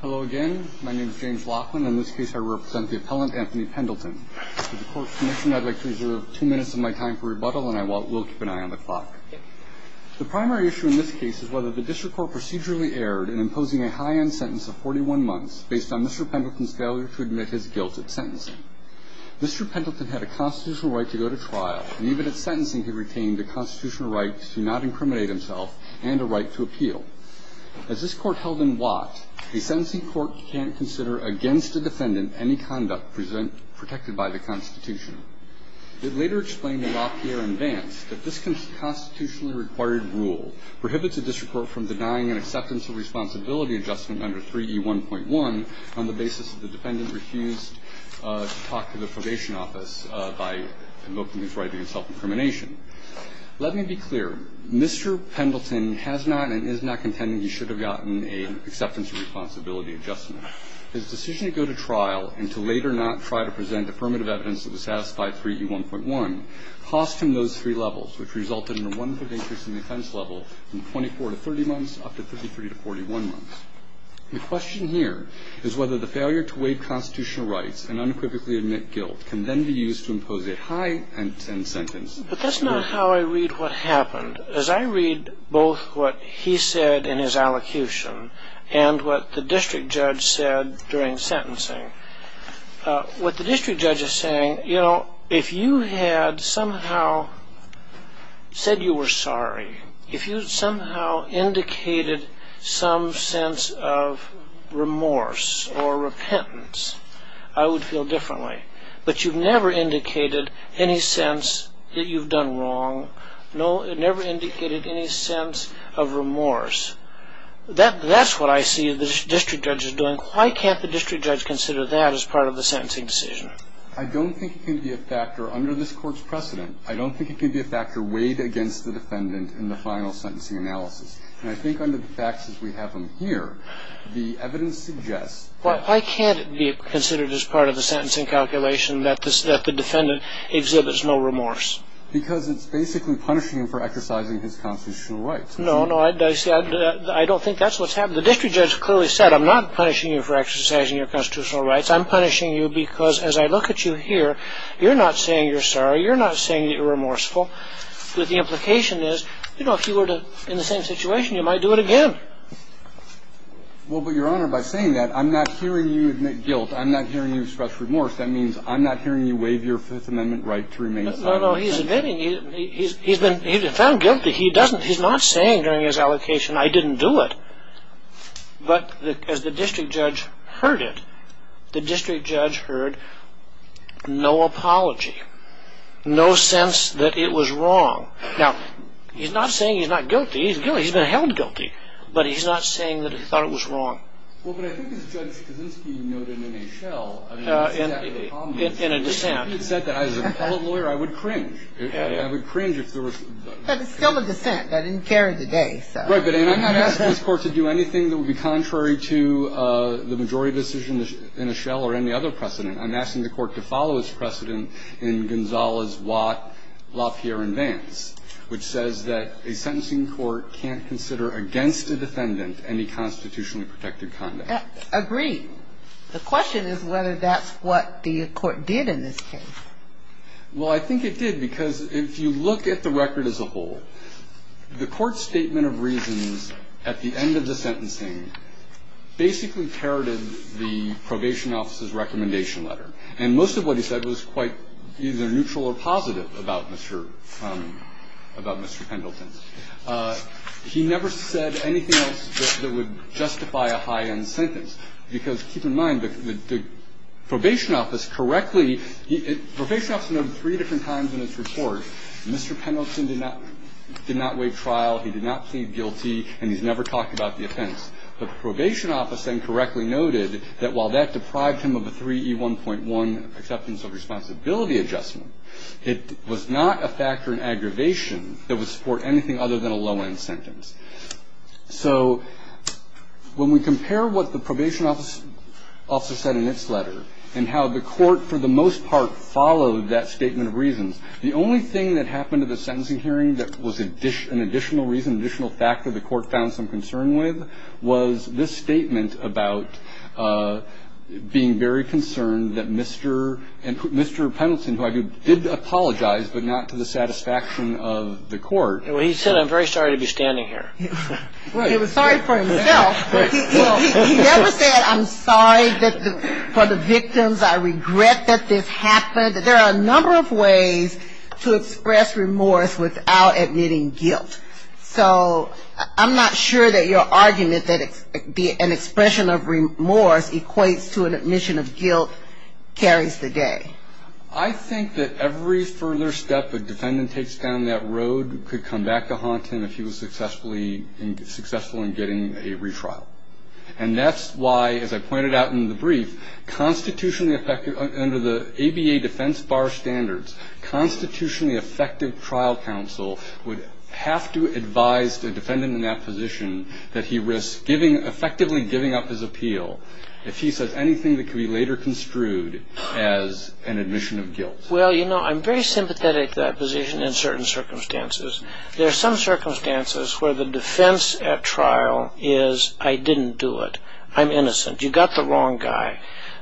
Hello again. My name is James Laughlin. In this case, I represent the appellant, Anthony Pendleton. With the court's permission, I'd like to reserve two minutes of my time for rebuttal, and I will keep an eye on the clock. The primary issue in this case is whether the district court procedurally erred in imposing a high-end sentence of 41 months based on Mr. Pendleton's failure to admit his guilt at sentencing. Mr. Pendleton had a constitutional right to go to trial, and even at sentencing, he retained a constitutional right to not incriminate himself and a right to appeal. As this court held in Watt, a sentencing court can't consider against a defendant any conduct protected by the Constitution. It later explained in Lafayette and Vance that this constitutionally required rule prohibits a district court from denying an acceptance of responsibility adjustment under 3E1.1 on the basis that the defendant refused to talk to the probation office by invoking his right against self-incrimination. Let me be clear. Mr. Pendleton has not and is not contending he should have gotten an acceptance of responsibility adjustment. His decision to go to trial and to later not try to present affirmative evidence that would satisfy 3E1.1 cost him those three levels, which resulted in a one-fifth increase in the offense level from 24 to 30 months up to 33 to 41 months. The question here is whether the failure to waive constitutional rights and unequivocally admit guilt can then be used to impose a high-end sentence. But that's not how I read what happened. As I read both what he said in his allocution and what the district judge said during sentencing, what the district judge is saying, you know, if you had somehow said you were sorry, if you somehow indicated some sense of remorse or repentance, I would feel differently. But you've never indicated any sense that you've done wrong. No, it never indicated any sense of remorse. That's what I see the district judge is doing. Why can't the district judge consider that as part of the sentencing decision? I don't think it can be a factor under this Court's precedent. I don't think it can be a factor weighed against the defendant in the final sentencing analysis. And I think under the facts as we have them here, the evidence suggests that Why can't it be considered as part of the sentencing calculation that the defendant exhibits no remorse? Because it's basically punishing him for exercising his constitutional rights. No, no, I don't think that's what's happening. The district judge clearly said, I'm not punishing you for exercising your constitutional rights. I'm punishing you because as I look at you here, you're not saying you're sorry. You're not saying that you're remorseful. But the implication is, you know, if you were in the same situation, you might do it again. Well, but Your Honor, by saying that, I'm not hearing you admit guilt. I'm not hearing you express remorse. That means I'm not hearing you waive your Fifth Amendment right to remain silent. No, no, he's admitting. He's been found guilty. He's not saying during his allocation, I didn't do it. But as the district judge heard it, the district judge heard no apology, no sense that it was wrong. Now, he's not saying he's not guilty. He's guilty. He's been held guilty. But he's not saying that he thought it was wrong. Well, but I think as Judge Kaczynski noted in a shell, I mean, it's exactly the opposite. In a dissent. If he had said that as a public lawyer, I would cringe. I would cringe if there was. But it's still a dissent. I didn't care today, so. Right, but I'm not asking this Court to do anything that would be contrary to the majority decision in a shell or any other precedent. I'm asking the Court to follow its precedent in Gonzalez, Watt, Lafayette, and Vance, which says that a sentencing court can't consider against a defendant any constitutionally protected conduct. Agreed. The question is whether that's what the court did in this case. Well, I think it did, because if you look at the record as a whole, the court's statement of reasons at the end of the sentencing basically parroted the probation office's recommendation letter. And most of what he said was quite either neutral or positive about Mr. Pendleton. He never said anything else that would justify a high-end sentence, because keep in mind, the probation office correctly – the probation office noted three different times in its report Mr. Pendleton did not waive trial, he did not plead guilty, and he's never talked about the offense. The probation office then correctly noted that while that deprived him of a 3E1.1 acceptance of responsibility adjustment, it was not a factor in aggravation that would support anything other than a low-end sentence. So when we compare what the probation office also said in its letter and how the court for the most part followed that statement of reasons, the only thing that happened at the sentencing hearing that was an additional reason, an additional factor the court found some concern with, was this statement about being very concerned that Mr. – and Mr. Pendleton, who I do – did apologize, but not to the satisfaction of the court. He said, I'm very sorry to be standing here. He was sorry for himself, but he never said, I'm sorry for the victims, I regret that this happened. There are a number of ways to express remorse without admitting guilt. So I'm not sure that your argument that an expression of remorse equates to an admission of guilt carries the day. I think that every further step a defendant takes down that road could come back to haunt him if he was successful in getting a retrial. And that's why, as I pointed out in the brief, constitutionally effective – I have to advise the defendant in that position that he risks effectively giving up his appeal if he says anything that could be later construed as an admission of guilt. Well, you know, I'm very sympathetic to that position in certain circumstances. There are some circumstances where the defense at trial is, I didn't do it, I'm innocent, you got the wrong guy.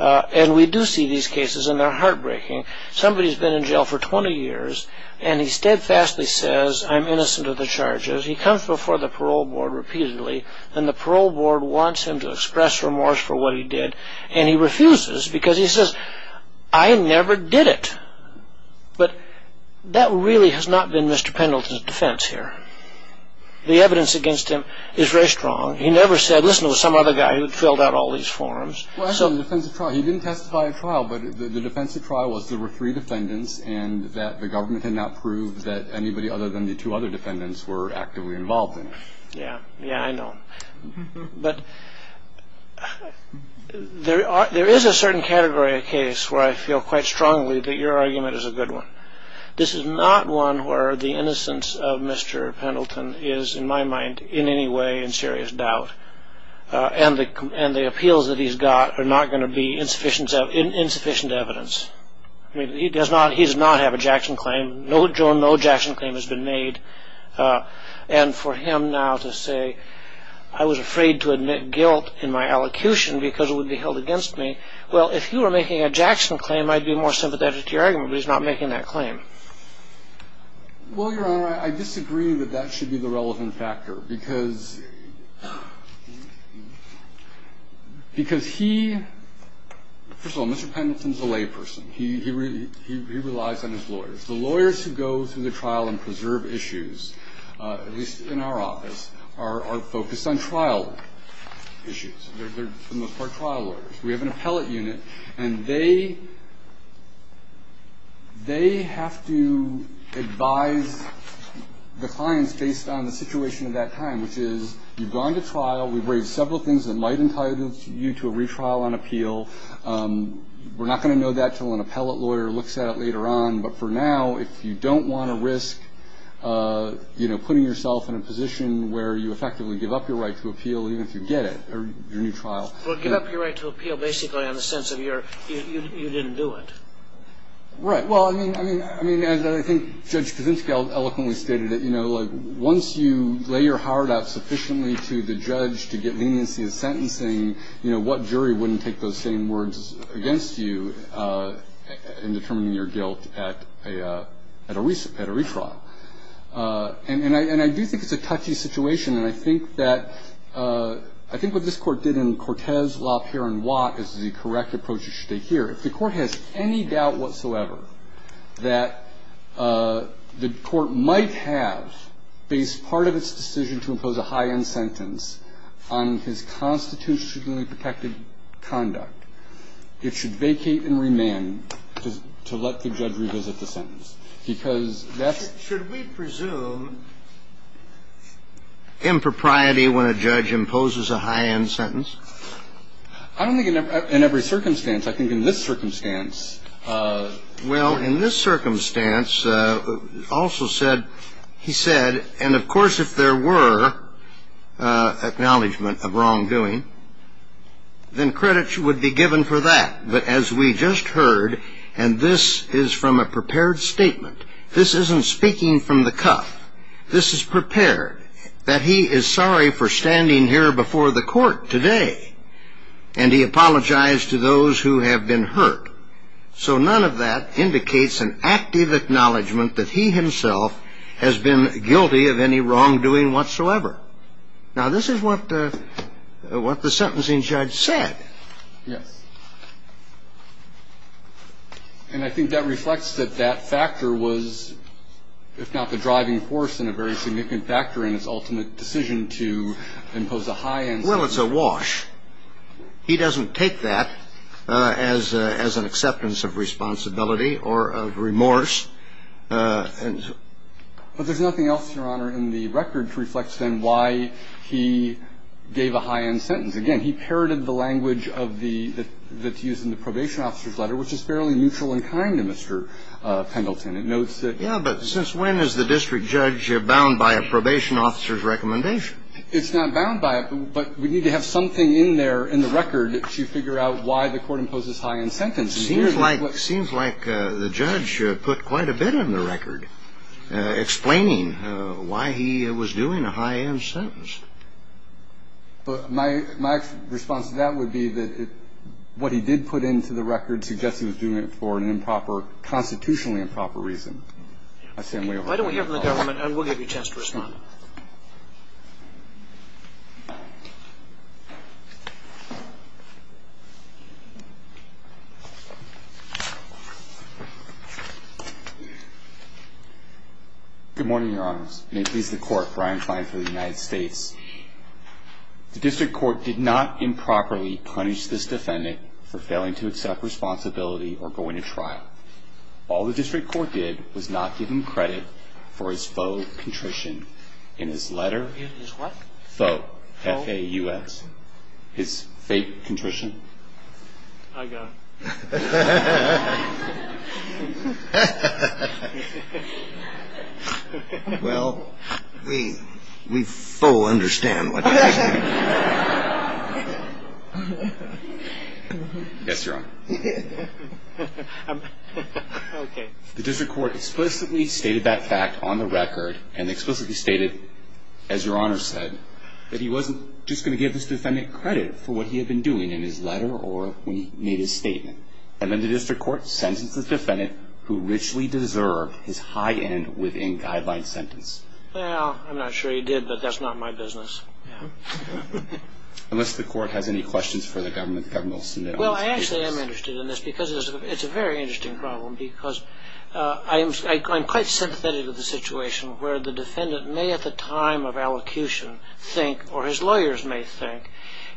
And we do see these cases, and they're heartbreaking. Somebody's been in jail for 20 years, and he steadfastly says, I'm innocent of the charges. He comes before the parole board repeatedly, and the parole board wants him to express remorse for what he did, and he refuses because he says, I never did it. But that really has not been Mr. Pendleton's defense here. The evidence against him is very strong. He never said, listen, it was some other guy who had filled out all these forms. He didn't testify at trial, but the defense at trial was there were three defendants and that the government had not proved that anybody other than the two other defendants were actively involved in it. Yeah, I know. But there is a certain category of case where I feel quite strongly that your argument is a good one. This is not one where the innocence of Mr. Pendleton is, in my mind, in any way in serious doubt. And the appeals that he's got are not going to be insufficient evidence. He does not have a Jackson claim. No, Joan, no Jackson claim has been made. And for him now to say, I was afraid to admit guilt in my allocution because it would be held against me. Well, if you were making a Jackson claim, I'd be more sympathetic to your argument, but he's not making that claim. Well, Your Honor, I disagree that that should be the relevant factor because he, first of all, Mr. Pendleton is a layperson. He relies on his lawyers. The lawyers who go through the trial and preserve issues, at least in our office, are focused on trial issues. They're, for the most part, trial lawyers. We have an appellate unit, and they have to advise the clients based on the situation at that time, which is you've gone to trial. We've raised several things that might entitle you to a retrial on appeal. We're not going to know that until an appellate lawyer looks at it later on. But for now, if you don't want to risk, you know, putting yourself in a position where you effectively give up your right to appeal, even if you get it, your new trial. Well, give up your right to appeal basically on the sense of you didn't do it. Right. Well, I mean, as I think Judge Kuczynski eloquently stated, you know, like once you lay your heart out sufficiently to the judge to get leniency in sentencing, you know, what jury wouldn't take those same words against you in determining your guilt at a retrial? And I do think it's a touchy situation. And I think that what this Court did in Cortez, Laupere, and Watt is the correct approach you should take here. If the Court has any doubt whatsoever that the Court might have based part of its decision to impose a high-end sentence on his constitutionally protected conduct, it should vacate and remand to let the judge revisit the sentence. Because that's... Should we presume impropriety when a judge imposes a high-end sentence? I don't think in every circumstance. I think in this circumstance... Well, in this circumstance, also said, he said, and of course if there were acknowledgment of wrongdoing, then credits would be given for that. But as we just heard, and this is from a prepared statement, this isn't speaking from the cuff. This is prepared, that he is sorry for standing here before the Court today. And he apologized to those who have been hurt. So none of that indicates an active acknowledgment that he himself has been guilty of any wrongdoing whatsoever. Now, this is what the sentencing judge said. Yes. And I think that reflects that that factor was, if not the driving force and a very significant factor in its ultimate decision to impose a high-end sentence. Well, it's a wash. He doesn't take that as an acceptance of responsibility or of remorse. But there's nothing else, Your Honor, in the record to reflect, then, why he gave a high-end sentence. Again, he parroted the language of the – that's used in the probation officer's letter, which is fairly neutral and kind to Mr. Pendleton. It notes that... Yeah, but since when is the district judge bound by a probation officer's recommendation? It's not bound by it, but we need to have something in there, in the record, to figure out why the Court imposes high-end sentences. It seems like the judge put quite a bit in the record explaining why he was doing a high-end sentence. But my response to that would be that what he did put into the record suggests he was doing it for an improper – constitutionally improper reason. Why don't we hear from the government, and we'll give you a chance to respond. Good morning, Your Honors. May it please the Court, Brian Klein for the United States. The district court did not improperly punish this defendant for failing to accept responsibility or going to trial. All the district court did was not give him credit for his faux contrition in his letter. In his what? Faux. F-A-U-S. His fake contrition. I got it. Well, we full understand what you're saying. Yes, Your Honor. Okay. The district court explicitly stated that fact on the record and explicitly stated, as Your Honor said, that he wasn't just going to give this defendant credit for what he had been doing in his letter or when he made his statement. And then the district court sentenced the defendant who richly deserved his high-end within guidelines sentence. Well, I'm not sure he did, but that's not my business. Unless the court has any questions for the government, the government will send it on its case. Well, I actually am interested in this because it's a very interesting problem because I'm quite sympathetic to the situation where the defendant may at the time of allocution think, or his lawyers may think,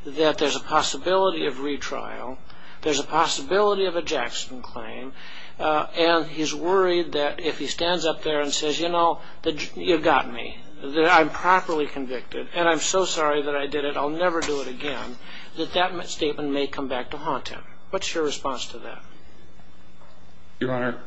that there's a possibility of retrial. There's a possibility of a Jackson claim. And he's worried that if he stands up there and says, you know, you got me, that I'm properly convicted, and I'm so sorry that I did it, I'll never do it again, that that statement may come back to haunt him. What's your response to that? Your Honor,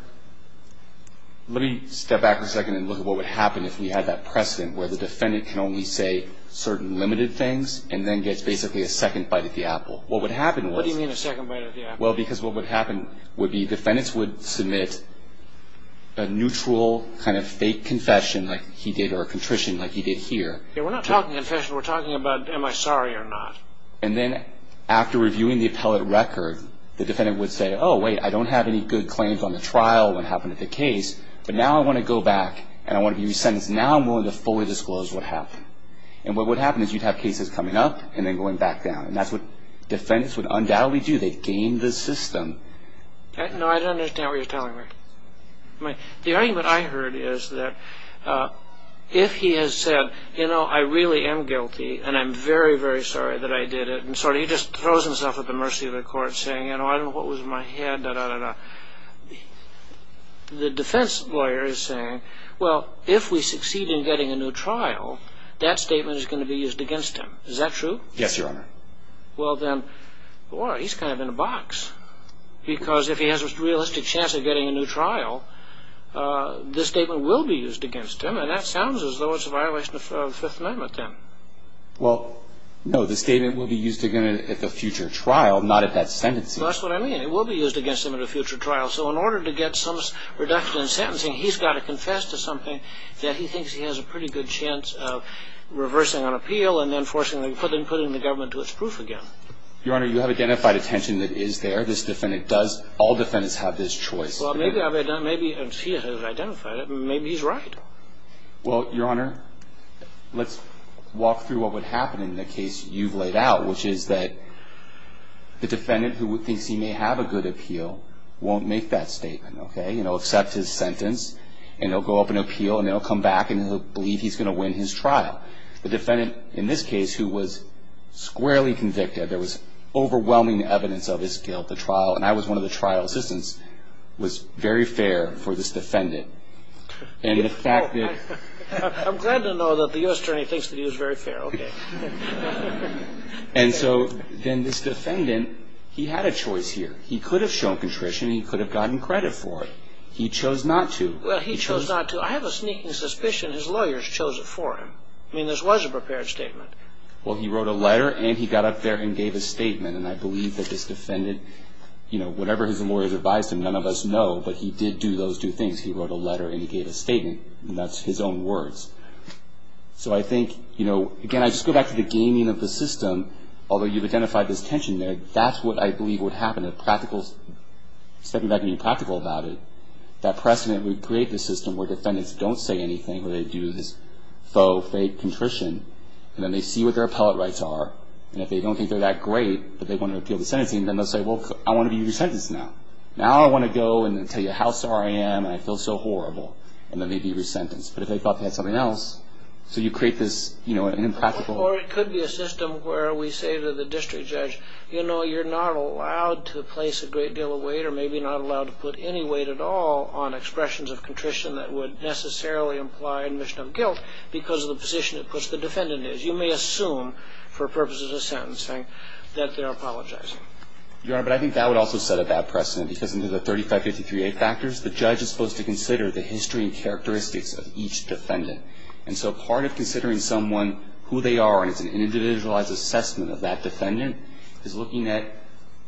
let me step back for a second and look at what would happen if we had that precedent where the defendant can only say certain limited things and then gets basically a second bite at the apple. What would happen was... What do you mean a second bite at the apple? Well, because what would happen would be defendants would submit a neutral kind of fake confession like he did or a contrition like he did here. We're not talking confession. We're talking about am I sorry or not. And then after reviewing the appellate record, the defendant would say, oh, wait, I don't have any good claims on the trial, what happened at the case, but now I want to go back and I want to be re-sentenced. Now I'm willing to fully disclose what happened. And what would happen is you'd have cases coming up and then going back down. And that's what defendants would undoubtedly do. They'd game the system. No, I don't understand what you're telling me. The argument I heard is that if he has said, you know, I really am guilty and I'm very, very sorry that I did it and so he just throws himself at the mercy of the court saying, you know, I don't know what was in my head, da-da-da-da. The defense lawyer is saying, well, if we succeed in getting a new trial, that statement is going to be used against him. Is that true? Yes, Your Honor. Well, then, boy, he's kind of in a box. Because if he has a realistic chance of getting a new trial, this statement will be used against him. And that sounds as though it's a violation of the Fifth Amendment then. Well, no, the statement will be used again at the future trial, not at that sentencing. That's what I mean. It will be used against him at a future trial. So in order to get some reduction in sentencing, he's got to confess to something that he thinks he has a pretty good chance of reversing on appeal and then putting the government to its proof again. Your Honor, you have identified a tension that is there. This defendant does. All defendants have this choice. Well, maybe he has identified it. Maybe he's right. Well, Your Honor, let's walk through what would happen in the case you've laid out, which is that the defendant who thinks he may have a good appeal won't make that statement, okay? And he'll accept his sentence and he'll go up and appeal and then he'll come back and he'll believe he's going to win his trial. The defendant, in this case, who was squarely convicted, there was overwhelming evidence of his guilt, the trial, and I was one of the trial assistants, was very fair for this defendant. And the fact that... I'm glad to know that the U.S. attorney thinks that he was very fair, okay. And so then this defendant, he had a choice here. He could have shown contrition. He could have gotten credit for it. He chose not to. Well, he chose not to. I have a sneaking suspicion his lawyers chose it for him. I mean, this was a prepared statement. Well, he wrote a letter and he got up there and gave a statement, and I believe that this defendant, you know, whatever his lawyers advised him, none of us know, but he did do those two things. He wrote a letter and he gave a statement, and that's his own words. So I think, you know, again, I just go back to the gaming of the system. Although you've identified this tension there, that's what I believe would happen. A practical... Stepping back and being practical about it, that precedent would create the system where defendants don't say anything where they do this faux, fake contrition, and then they see what their appellate rights are, and if they don't think they're that great that they want to appeal the sentencing, then they'll say, well, I want to be resentenced now. Now I want to go and tell you how sorry I am and I feel so horrible, and then they'd be resentenced. But if they thought they had something else, so you create this, you know, an impractical... Or it could be a system where we say to the district judge, you know, you're not allowed to place a great deal of weight or maybe not allowed to put any weight at all on expressions of contrition that would necessarily imply admission of guilt because of the position of which the defendant is. You may assume for purposes of sentencing that they're apologizing. Your Honor, but I think that would also set a bad precedent because under the 3553A factors, the judge is supposed to consider the history and characteristics of each defendant. And so part of considering someone, who they are, and it's an individualized assessment of that defendant, is looking at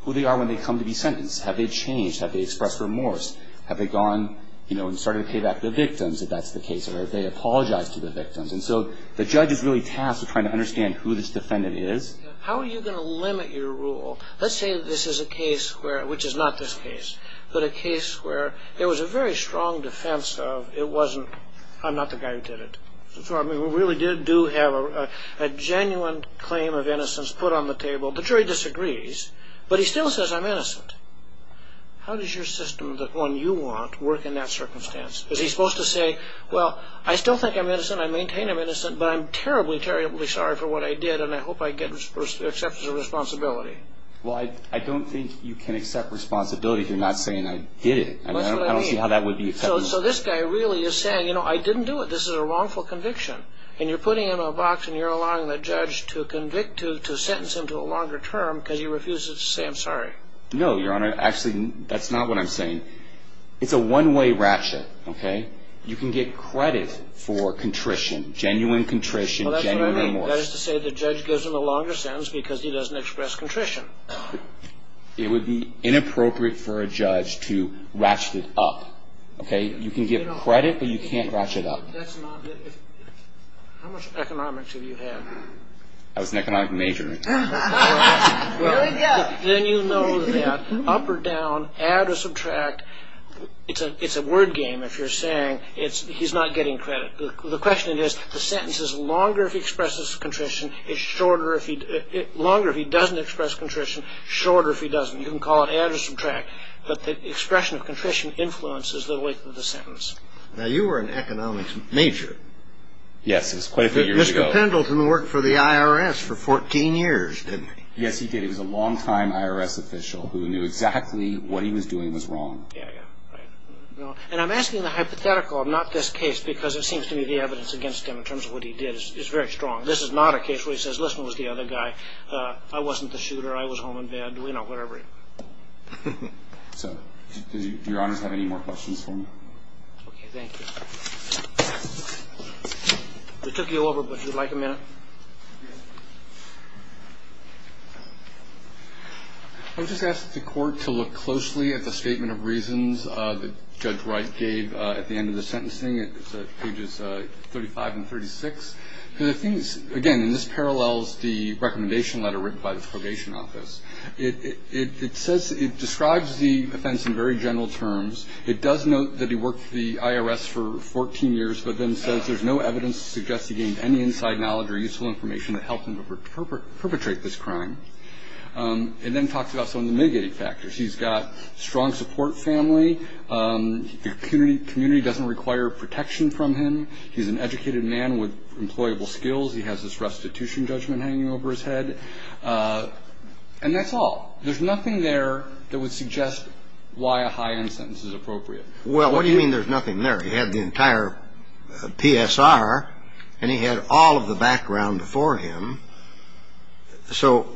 who they are when they come to be sentenced. Have they changed? Have they expressed remorse? Have they gone, you know, and started to pay back the victims, if that's the case, or have they apologized to the victims? And so the judge is really tasked with trying to understand who this defendant is. How are you going to limit your rule? Let's say this is a case where, which is not this case, but a case where there was a very strong defense of it wasn't, I'm not the guy who did it. So I mean, we really did do have a genuine claim of innocence put on the table. The jury disagrees, but he still says I'm innocent. How does your system, the one you want, work in that circumstance? Is he supposed to say, well, I still think I'm innocent, I maintain I'm innocent, but I'm terribly, terribly sorry for what I did, and I hope I get accepted as a responsibility? Well, I don't think you can accept responsibility if you're not saying I did it. That's what I mean. I don't see how that would be acceptable. So this guy really is saying, you know, I didn't do it. This is a wrongful conviction. And you're putting him in a box and you're allowing the judge to convict him, to sentence him to a longer term because he refuses to say I'm sorry. No, Your Honor. Actually, that's not what I'm saying. It's a one-way ratchet, okay? You can get credit for contrition, genuine contrition, genuine remorse. Well, that's what I meant. That is to say the judge gives him a longer sentence because he doesn't express contrition. It would be inappropriate for a judge to ratchet it up, okay? You can get credit, but you can't ratchet up. That's not it. How much economics have you had? I was an economic major. Here we go. Then you know that up or down, add or subtract, it's a word game if you're saying he's not getting credit. The question is the sentence is longer if he expresses contrition, it's shorter if he doesn't express contrition, shorter if he doesn't. You can call it add or subtract, but the expression of contrition influences the length of the sentence. Now, you were an economics major. Yes, it was quite a few years ago. Mr. Pendleton worked for the IRS for 14 years, didn't he? Yes, he did. He was a longtime IRS official who knew exactly what he was doing was wrong. Yeah, yeah, right. And I'm asking the hypothetical, not this case, because it seems to me the evidence against him in terms of what he did is very strong. This is not a case where he says, listen, it was the other guy. I wasn't the shooter. I was home in bed. You know, whatever. So do your honors have any more questions for me? Okay, thank you. We took you over, but if you'd like a minute. I just asked the Court to look closely at the statement of reasons that Judge Wright gave at the end of the sentencing. It's pages 35 and 36. And the thing is, again, and this parallels the recommendation letter written by the Probation Office. It says it describes the offense in very general terms. It does note that he worked for the IRS for 14 years, but then says there's no evidence to suggest he gained any inside knowledge or useful information that helped him perpetrate this crime. It then talks about some of the mitigating factors. He's got a strong support family. The community doesn't require protection from him. He's an educated man with employable skills. He has this restitution judgment hanging over his head. And that's all. There's nothing there that would suggest why a high-end sentence is appropriate. Well, what do you mean there's nothing there? He had the entire PSR, and he had all of the background before him. So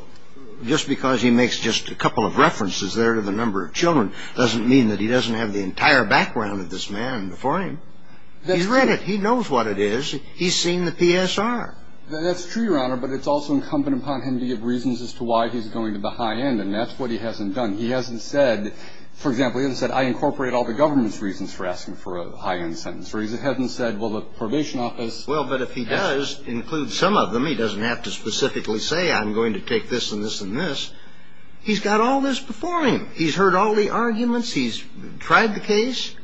just because he makes just a couple of references there to the number of children doesn't mean that he doesn't have the entire background of this man before him. He's read it. He knows what it is. He's seen the PSR. That's true, Your Honor. But it's also incumbent upon him to give reasons as to why he's going to the high end, and that's what he hasn't done. He hasn't said, for example, he hasn't said I incorporate all the government's reasons for asking for a high-end sentence, or he hasn't said, well, the probation office. Well, but if he does include some of them, he doesn't have to specifically say I'm going to take this and this and this. He's got all this before him. He's heard all the arguments. He's tried the case.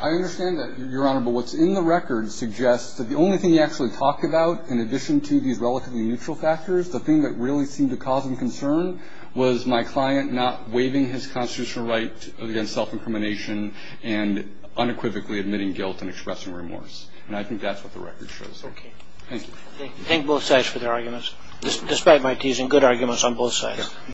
I understand that, Your Honor, but what's in the record suggests that the only thing he actually talked about, in addition to these relatively neutral factors, the thing that really seemed to cause him concern was my client not waiving his constitutional right against self-incrimination and unequivocally admitting guilt and expressing remorse. And I think that's what the record shows. Thank you. Thank both sides for their arguments, despite my teasing, good arguments on both sides.